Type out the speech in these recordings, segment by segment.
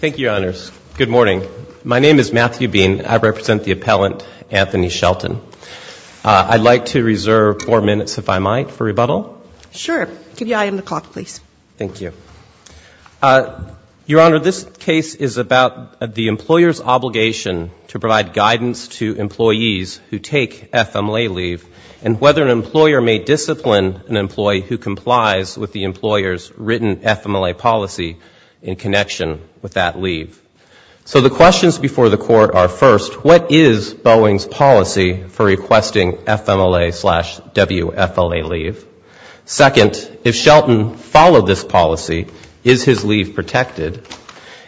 Thank you, Your Honors. Good morning. My name is Matthew Bean. I represent the appellant, Anthony Shelton. I'd like to reserve four minutes, if I might, for rebuttal. Sure. Give the item the clock, please. Thank you. Your Honor, this case is about the employer's obligation to provide guidance to employees who take FMLA leave, and whether an employer may discipline an employee who complies with the employer's written FMLA policy, in connection with that leave. So the questions before the Court are, first, what is Boeing's policy for requesting FMLA slash WFLA leave? Second, if Shelton followed this policy, is his leave protected?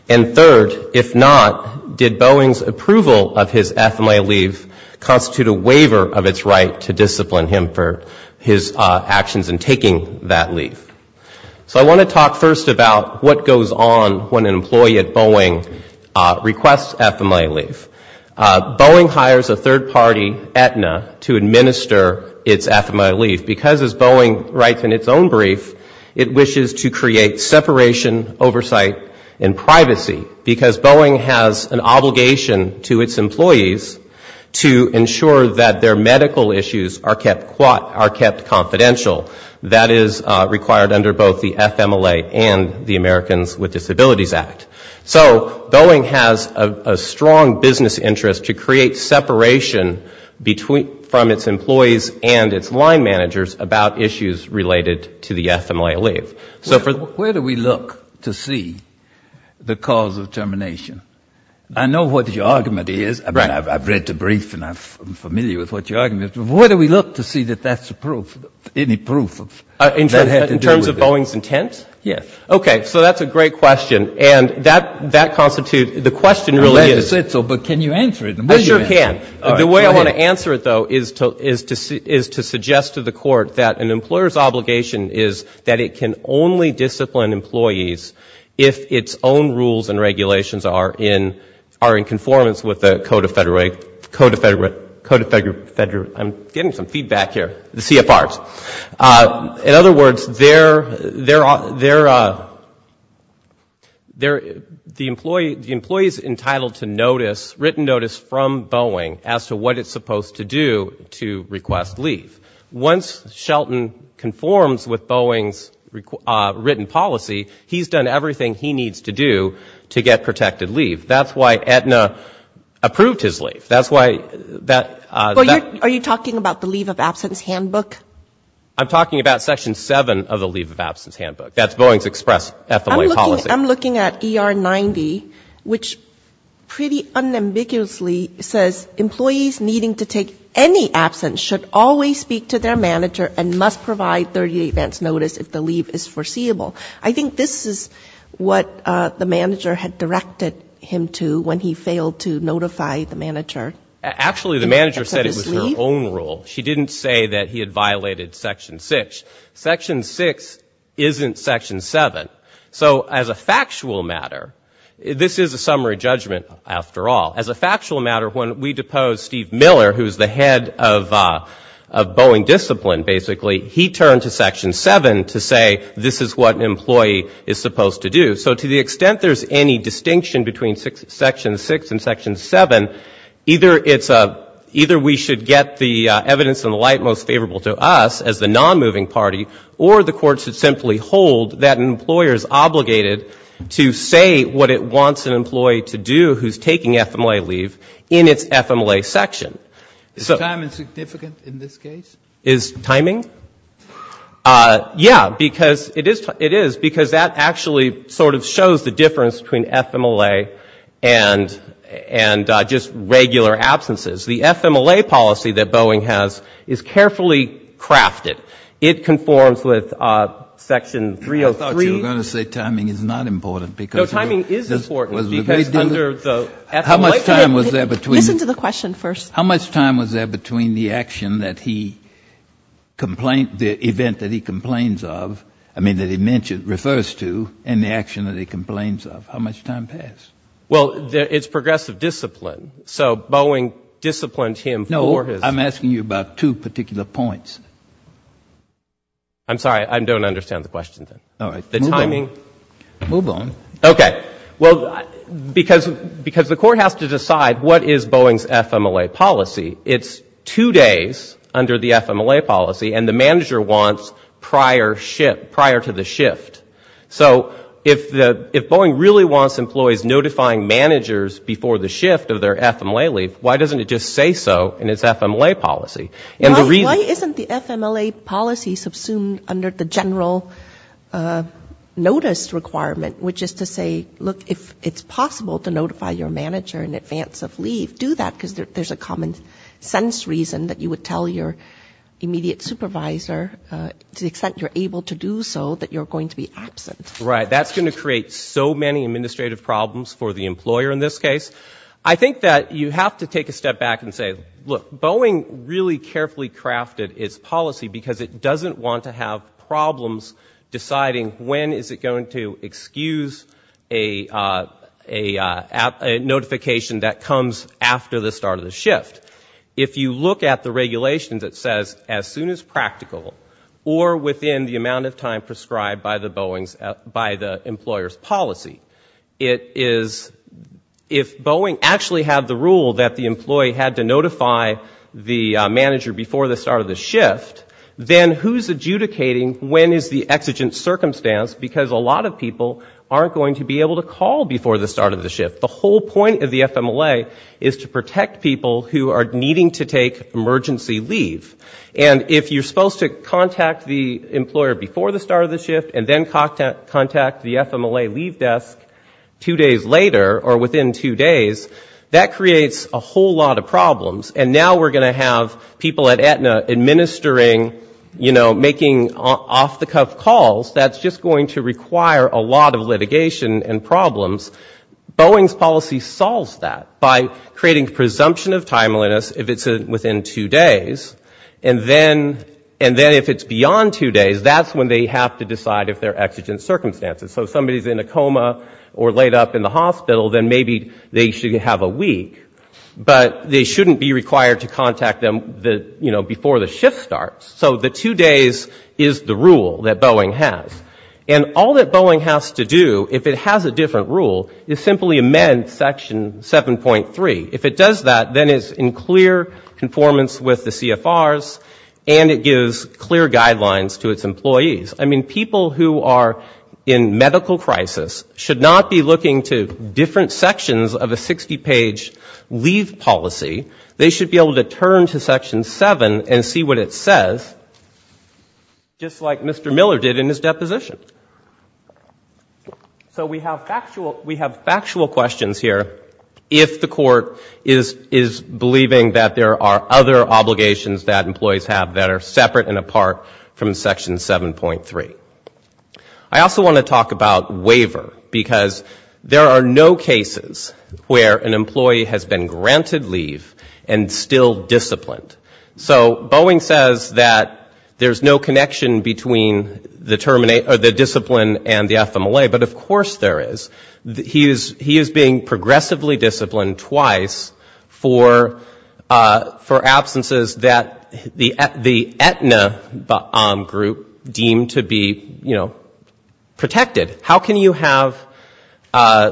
And third, if not, did Boeing's approval of his FMLA leave constitute a waiver of its right to discipline him for his actions in taking that leave? So I want to talk first about what goes on when an employee at Boeing requests FMLA leave. Boeing hires a third party, Aetna, to administer its FMLA leave. Because, as Boeing writes in its own brief, it wishes to create separation, oversight, and privacy, because Boeing has an obligation to its employees to ensure that their medical issues are kept confidential. That is required under both the FMLA and the Americans with Disabilities Act. So Boeing has a strong business interest to create separation from its employees and its line managers about issues related to the FMLA leave. Where do we look to see the cause of termination? I know what your argument is. I've read the brief and I'm familiar with what your argument is. Where do we look to see that that's the proof, any proof that had to do with it? In terms of Boeing's intent? Yes. Okay. So that's a great question. And that constitutes, the question really is... I'm glad you said so, but can you answer it? I'm getting some feedback here. The CFRs. In other words, the employee is entitled to written notice from Boeing as to what it's supposed to do to request leave. Once Shelton conforms with Boeing's written policy, he's done everything he needs to do to get protected. That's why Edna approved his leave. Are you talking about the leave of absence handbook? I'm talking about Section 7 of the leave of absence handbook. That's Boeing's express FMLA policy. I'm looking at ER 90, which pretty unambiguously says employees needing to take any absence should always speak to their manager and must provide 30-day advance notice if the leave is foreseeable. I think this is what the manager had directed him to when he failed to notify the manager. Actually, the manager said it was her own rule. She didn't say that he had violated Section 6. Section 6 isn't Section 7. So as a factual matter, this is a summary judgment, after all. As a factual matter, when we deposed Steve Miller, who's the head of Boeing discipline, basically, he turned to Section 7 to say this is what an employee is supposed to do. So to the extent there's any distinction between Section 6 and Section 7, either it's a, either we should get the evidence and the light most favorable to us as the nonmoving party, or the Court should simply hold that an employer is obligated to say what it wants an employee to do who's taking FMLA leave in its FMLA section. Is timing significant in this case? Is timing? Yeah, because it is, because that actually sort of shows the difference between FMLA and just regular absences. The FMLA policy that Boeing has is carefully crafted. It conforms with Section 303. I thought you were going to say timing is not important. No, timing is important. How much time was there between the action that he complained, the event that he complains of, I mean that he refers to, and the action that he complains of? How much time passed? Well, it's progressive discipline. So Boeing disciplined him for his... Move on. Okay. Well, because the Court has to decide what is Boeing's FMLA policy. It's two days under the FMLA policy, and the manager wants prior to the shift. So if Boeing really wants employees notifying managers before the shift of their FMLA leave, why doesn't it just say so in its FMLA policy? Why isn't the FMLA policy subsumed under the general notice requirement? Which is to say, look, if it's possible to notify your manager in advance of leave, do that, because there's a common sense reason that you would tell your immediate supervisor, to the extent you're able to do so, that you're going to be absent. Right. That's going to create so many administrative problems for the employer in this case. I think that you have to take a step back and say, look, Boeing really carefully crafted its policy, because it doesn't want to have problems deciding when is it going to excuse a notification that comes after the start of the shift. If you look at the regulations, it says as soon as practical, or within the amount of time prescribed by the employer's policy, it is, if Boeing actually had the rule that the employee had to notify the manager before the start of the shift, then who's adjudicating when is the exigent circumstance, because a lot of people aren't going to be able to call before the start of the shift. The whole point of the FMLA is to protect people who are needing to take emergency leave. And if you're supposed to contact the employer before the start of the shift, and then contact the FMLA leave desk two days later, or within two days, that creates a whole lot of problems. And now we're going to have people at Aetna administering, you know, making off-the-cuff calls. That's just going to require a lot of litigation and problems. Boeing's policy solves that by creating presumption of timeliness if it's within two days. And then if it's beyond two days, that's when they have to decide if they're exigent circumstances. So if somebody's in a coma or laid up in the hospital, then maybe they should have a week. But they shouldn't be required to contact them, you know, before the shift starts. So the two days is the rule that Boeing has. And all that Boeing has to do, if it has a different rule, is simply amend Section 7.3. If it does that, then it's in clear conformance with the CFRs, and it gives clear guidelines to its employees. I mean, people who are in medical crisis should not be looking to different sections of a 60-page leave policy. They should be able to turn to Section 7 and see what it says, just like Mr. Miller did in his deposition. So we have factual questions here. If the court is believing that there are other obligations that employees have that are separate and apart from Section 7.3. I also want to talk about waiver, because there are no cases where an employee has been granted leave and still disciplined. So Boeing says that there's no connection between the discipline and the FMLA, but of course there is. He is being progressively disciplined twice for absences that the Aetna BOM group deemed to be, you know, protected. How can you have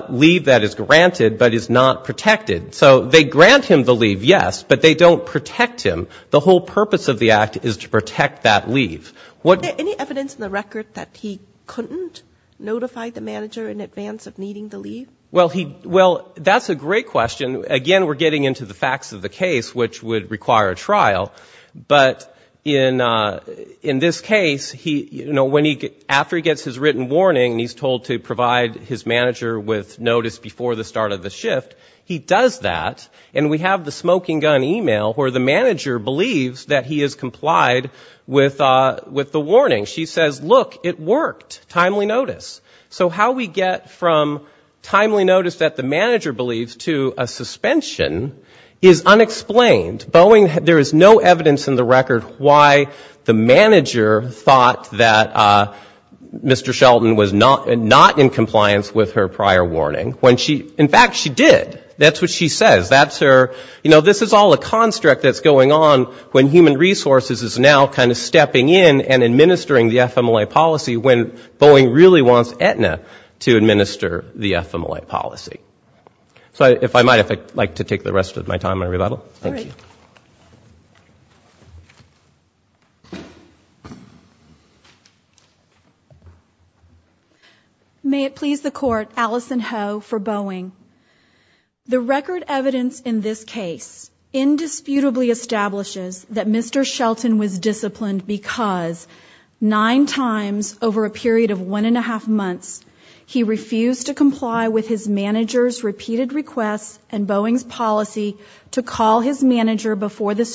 leave that is granted but is not protected? So they grant him the leave, yes, but they don't protect him. The whole purpose of the act is to protect that leave. What... Any evidence in the record that he couldn't notify the manager in advance of needing the leave? Well, that's a great question. Again, we're getting into the facts of the case, which would require a trial. But in this case, you know, after he gets his written warning and he's told to provide his manager with notice before the start of the shift, he does that. And we have the smoking gun email where the manager believes that he has complied with the warning. She says, look, it worked, timely notice. So how we get from timely notice that the manager believes to a suspension is unexplained. Boeing, there is no evidence in the record why the manager thought that Mr. Sheldon was not in compliance with her prior warning. In fact, she did. That's what she says. That's her, you know, this is all a construct that's going on when human resources is now kind of stepping in and administering the FMLA policy when Boeing really wants Aetna to administer the FMLA policy. So if I might, if I'd like to take the rest of my time and rebuttal. Thank you. May it please the court. Alison Ho for Boeing. The record evidence in this case indisputably establishes that Mr. Sheldon was disciplined because nine times over a period of one and a half months, he refused to comply with his manager's repeated requests and Boeing's policy to call his manager's office.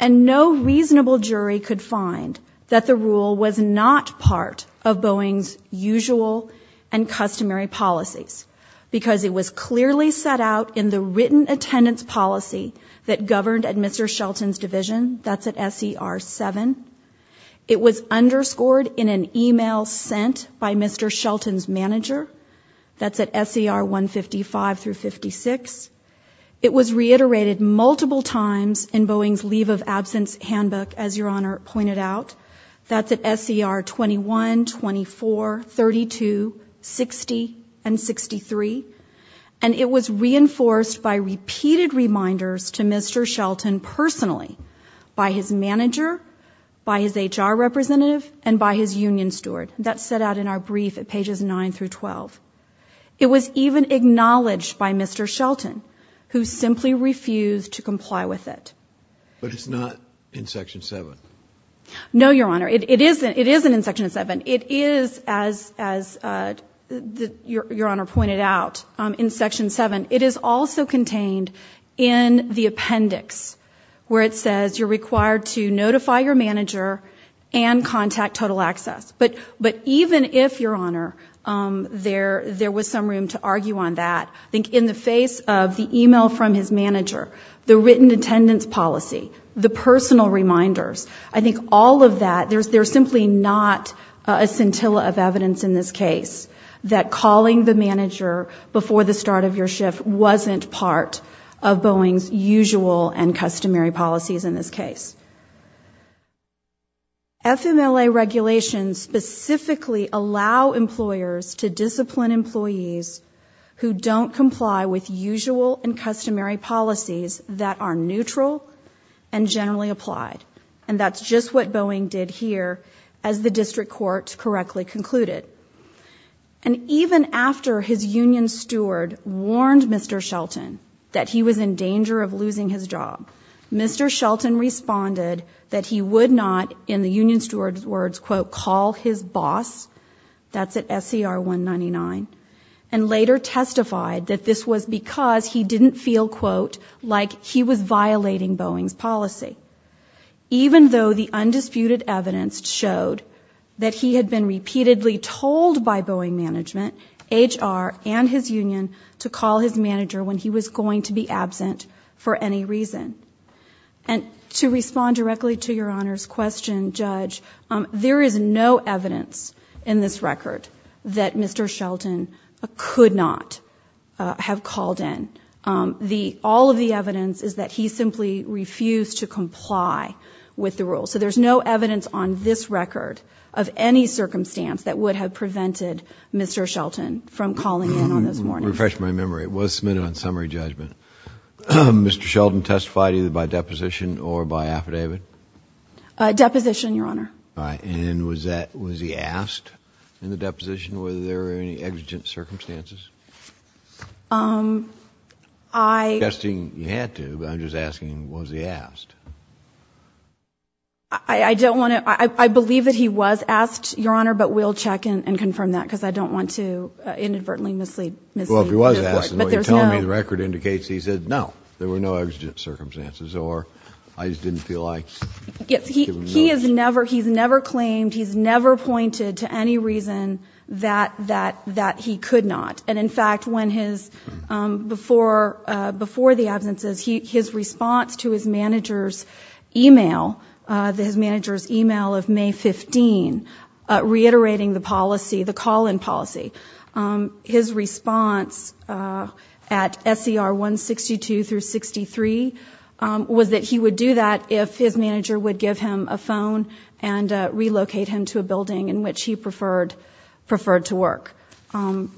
And no reasonable jury could find that the rule was not part of Boeing's usual and customary policies, because it was clearly set out in the written attendance policy that governed Mr. Sheldon's schedule. It was reiterated multiple times in Boeing's leave of absence handbook, as your honor pointed out, that's at SCR 21, 24, 32, 60 and 63. And it was reinforced by repeated reminders to Mr. Sheldon personally by his manager, by his HR representative and by his union steward. That's set out in our brief at pages nine through 12. It was even acknowledged by Mr. Sheldon, who simply refused to comply with it. But it's not in section seven. No, your honor. It isn't. It isn't in section seven. It is, as your honor pointed out, in section seven. It is also contained in the appendix, where it says you're required to notify your manager and contact total access. But even if, your honor, there was some room to argue on that, I think in the face of the email from his manager, the written attendance policy, the personal reminders, I think all of that, there's simply not a scintilla of evidence in this case that calling the manager before the start of your shift wasn't part of Boeing's usual and customary policies in this case. FMLA regulations specifically allow employers to discipline employees who don't comply with usual and customary policies that are neutral and generally applied. And that's just what Boeing did here, as the district court correctly concluded. And even after his union steward warned Mr. Sheldon that he was in danger of losing his job, Mr. Sheldon responded that he would not, in the union steward's words, quote, call his boss, that's at SCR 199, and later testified that this was because he didn't feel, quote, like he was violating Boeing's policy. Even though the undisputed evidence showed that he had been repeatedly told by Boeing management, HR, and his union to call his manager when he was going to be absent for any reason. And to respond directly to your honor's question, Judge, there is no evidence in this record that Mr. Sheldon could not have called in. All of the evidence is that he simply refused to comply with the rules. So there's no evidence on this record of any circumstance that would have prevented Mr. Sheldon from calling in on those warnings. Let me refresh my memory. It was submitted on summary judgment. Mr. Sheldon testified either by deposition or by affidavit? Deposition, your honor. And was that, was he asked in the deposition whether there were any exigent circumstances? I'm not suggesting he had to, but I'm just asking, was he asked? I don't want to, I believe that he was asked, your honor, but we'll check and confirm that, because I don't want to inadvertently mislead. Well, if he was asked and you're telling me the record indicates that he said no, there were no exigent circumstances, or I just didn't feel like. He is never, he's never claimed, he's never pointed to any reason that he could not. And in fact, when his, before the absences, his response to his manager's e-mail, his manager's e-mail of May 15, reiterating the policy, the call-in policy, his response at SER 162 through 63 was that he would do that if his manager's e-mail had not been sent. That his manager would give him a phone and relocate him to a building in which he preferred to work.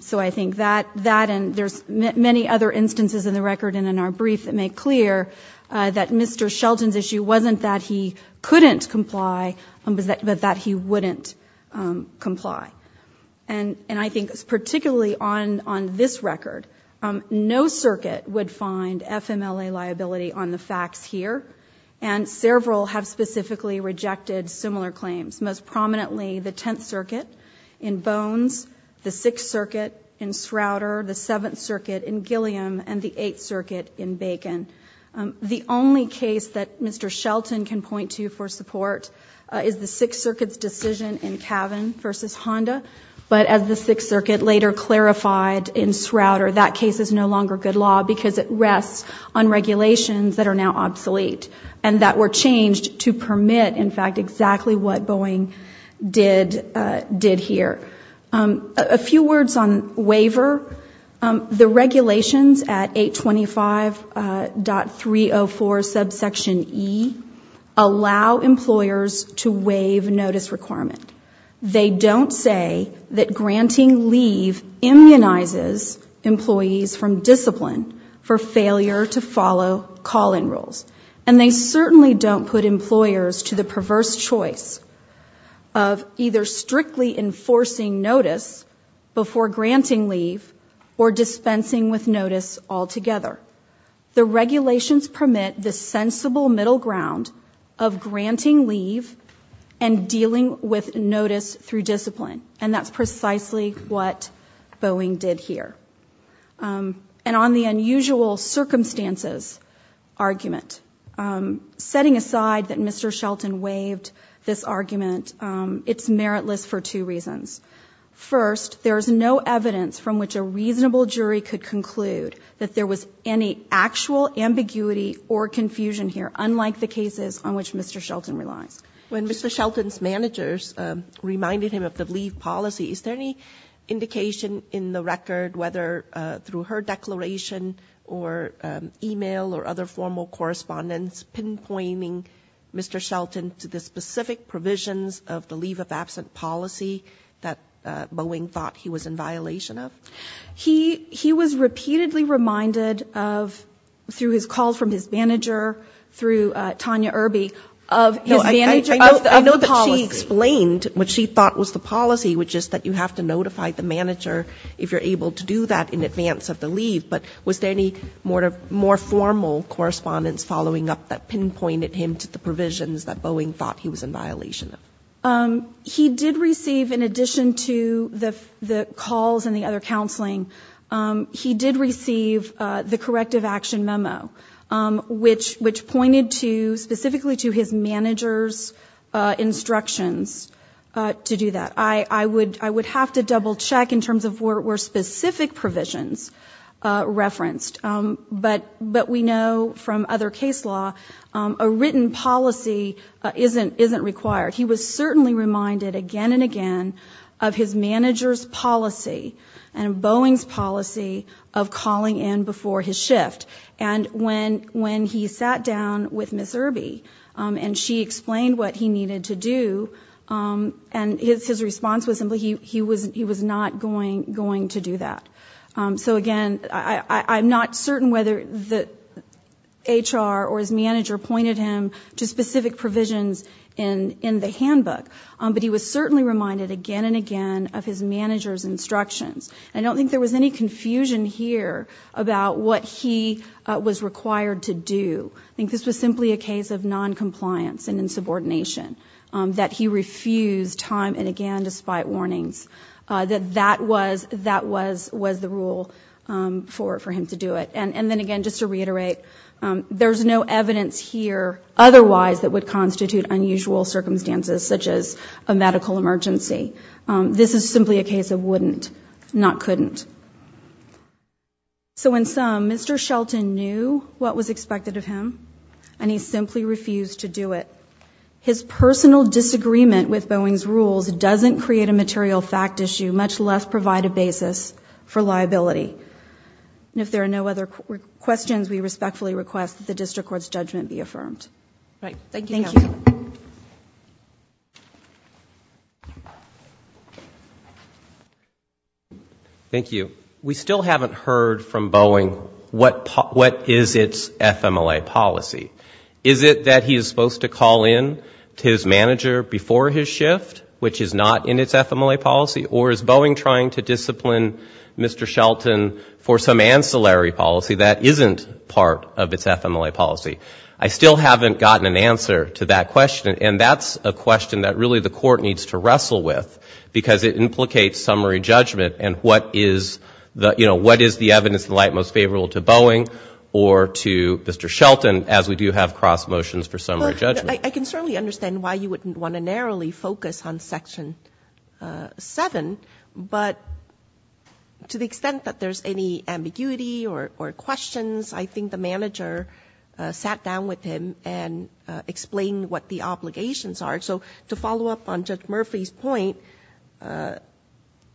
So I think that, and there's many other instances in the record and in our brief that make clear that Mr. Sheldon's issue wasn't that he couldn't comply, but that he wouldn't comply. And I think particularly on this record, no circuit would find FMLA liability on the facts here. And several have specifically rejected similar claims. Most prominently, the Tenth Circuit in Bones, the Sixth Circuit in Srouter, the Seventh Circuit in Gilliam, and the Eighth Circuit in Bacon. The only case that Mr. Sheldon can point to for support is the Sixth Circuit's decision in Cavan v. Honda. But as the Sixth Circuit later clarified in Srouter, that case is no longer good law because it rests on regulations that are now obsolete. And that were changed to permit, in fact, exactly what Boeing did here. A few words on waiver. The regulations at 825.304 subsection E allow employers to waive notice requirement. They don't say that granting leave immunizes employees from discipline for failure to follow call-in rules. And they certainly don't put employers to the perverse choice of either strictly enforcing notice before granting leave or dispensing with notice altogether. The regulations permit the sensible middle ground of granting leave and dealing with notice through discipline. And that's precisely what Boeing did here. And on the unusual circumstances argument. Setting aside that Mr. Sheldon waived this argument, it's meritless for two reasons. First, there is no evidence from which a reasonable jury could conclude that there was any actual ambiguity or confusion here, unlike the cases on which Mr. Sheldon relies. When Mr. Sheldon's managers reminded him of the leave policy, is there any indication in the record whether or not Mr. Sheldon was able to do that? Either through her declaration or email or other formal correspondence, pinpointing Mr. Sheldon to the specific provisions of the leave of absent policy that Boeing thought he was in violation of? He was repeatedly reminded of, through his call from his manager, through Tanya Irby, of his manager, of the policy. I know that she explained what she thought was the policy, which is that you have to notify the manager if you're able to do that. In advance of the leave, but was there any more formal correspondence following up that pinpointed him to the provisions that Boeing thought he was in violation of? He did receive, in addition to the calls and the other counseling, he did receive the corrective action memo, which pointed to, specifically to his manager's instructions to do that. I would have to double check in terms of were specific provisions referenced. But we know from other case law, a written policy isn't required. He was certainly reminded again and again of his manager's policy and Boeing's policy of calling in before his shift. And when he sat down with Ms. Irby and she explained what he needed to do, and his response was, he was not going to do that. So again, I'm not certain whether the HR or his manager pointed him to specific provisions in the handbook. But he was certainly reminded again and again of his manager's instructions. I don't think there was any confusion here about what he was required to do. I think this was simply a case of noncompliance and insubordination, that he refused time and again to speak to his manager. Despite warnings, that that was the rule for him to do it. And then again, just to reiterate, there's no evidence here otherwise that would constitute unusual circumstances, such as a medical emergency. This is simply a case of wouldn't, not couldn't. So in sum, Mr. Shelton knew what was expected of him, and he simply refused to do it. His personal disagreement with Boeing's rules doesn't create a material fact issue, much less provide a basis for liability. And if there are no other questions, we respectfully request that the district court's judgment be affirmed. Thank you. Thank you. Thank you. We still haven't heard from Boeing what is its FMLA policy. Is it that he is supposed to call in to his manager before his shift, which is not in its FMLA policy? Or is Boeing trying to discipline Mr. Shelton for some ancillary policy that isn't part of its FMLA policy? I still haven't gotten an answer to that question, and that's a question that really the court needs to wrestle with, because it implicates summary judgment and what is the, you know, what is the evidence in light most favorable to Boeing or to Mr. Shelton, as we do have cross motions for summary judgment. I can certainly understand why you wouldn't want to narrowly focus on Section 7, but to the extent that there's any ambiguity or questions, I think the manager sat down with him and explained what the obligations are. So to follow up on Judge Murphy's point,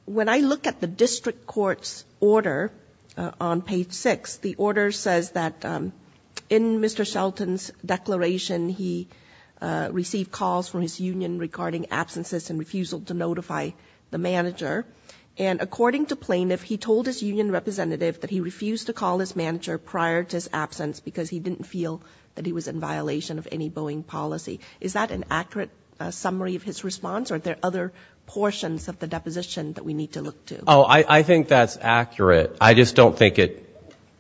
when I look at the district court's order on page 6, the order says that in Mr. Shelton's declaration, he received calls from his union regarding absences and refusal to notify the manager, and according to the district court, he did not notify his manager prior to his absence, because he didn't feel that he was in violation of any Boeing policy. Is that an accurate summary of his response, or are there other portions of the deposition that we need to look to? Oh, I think that's accurate. I just don't think it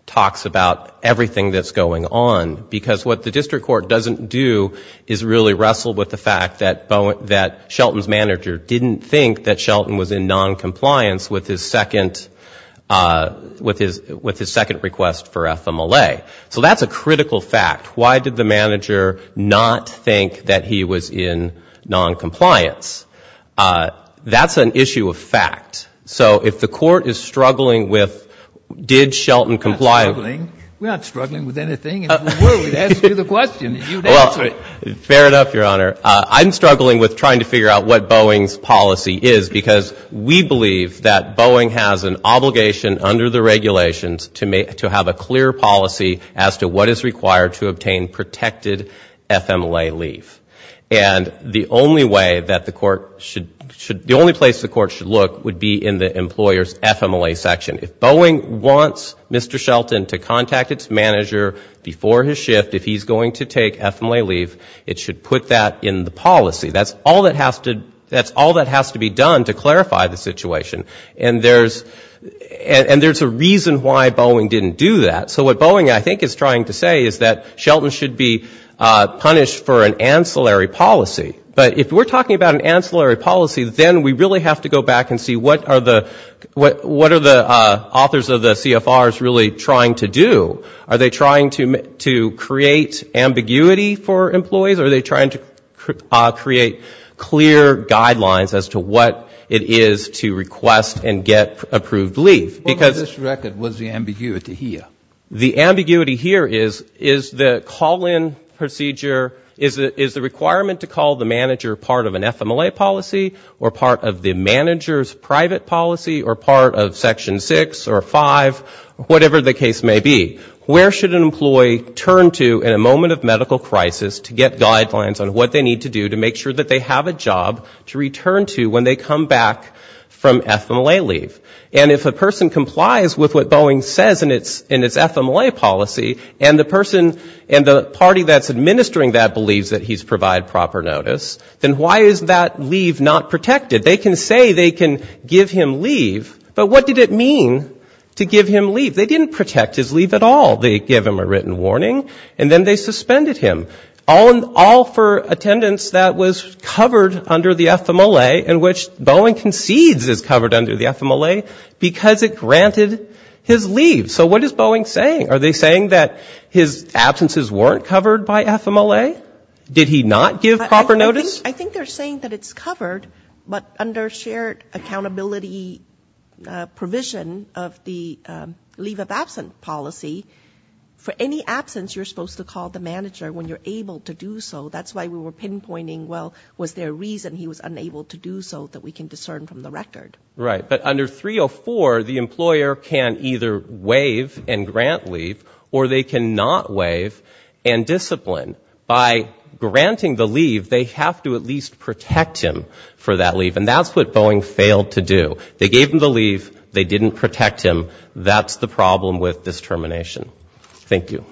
talks about everything that's going on, because what the district court doesn't do is really wrestle with the fact that Shelton's manager didn't think that Shelton was in noncompliance with his second request of deposition. That's a critical fact. Why did the manager not think that he was in noncompliance? That's an issue of fact. So if the court is struggling with, did Shelton comply? We're not struggling with anything. Fair enough, Your Honor. I'm struggling with trying to figure out what Boeing's policy is, because we believe that Boeing has an obligation under the regulations to have a clear policy as to what is required to obtain protected FMLA leave. And the only way that the court should, the only place the court should look would be in the employer's FMLA section. If Boeing wants Mr. Shelton to contact its manager before his shift, if he's going to take FMLA leave, it should put that in the policy. That's all that has to be done to clarify the situation. And there's a reason why Boeing didn't do that. So what Boeing, I think, is trying to say is that Shelton should be punished for an ancillary policy. But if we're talking about an ancillary policy, then we really have to go back and see what are the authors of the CFRs really trying to do. Are they trying to create ambiguity for employees? Are they trying to create clear guidelines as to what it is to request and get approved leave? Because... The ambiguity here is, is the call-in procedure, is the requirement to call the manager part of an FMLA policy, or part of the manager's private policy, or part of Section 6 or 5, whatever the case may be? Where should an employee turn to in a moment of medical crisis to get guidelines on what they need to do to make sure that they have a job to return to when they come back from FMLA leave? And if a person complies with what Boeing says in its FMLA policy, and the person, and the party that's administering that believes that he's provided proper notice, then why is that leave not protected? They can say they can give him leave, but what did it mean to give him leave? They didn't protect his leave at all. They gave him a written warning, and then they suspended him, all for attendance that was covered under the FMLA, in which Boeing concedes is covered under the FMLA, because it granted his leave. So what is Boeing saying? Are they saying that his absences weren't covered by FMLA? Did he not give proper notice? I think they're saying that it's covered, but under shared accountability provision of the leave of absence policy, for any absence you're supposed to call the manager when you're able to do so. That's why we were pinpointing, well, was there a reason he was unable to do so that we can discern from the record? Right. But under 304, the employer can either waive and grant leave, or they can not waive and discipline. By granting the leave, they have to at least protect him for that leave, and that's what Boeing failed to do. They gave him the leave, they didn't protect him, that's the problem with this termination. Thank you.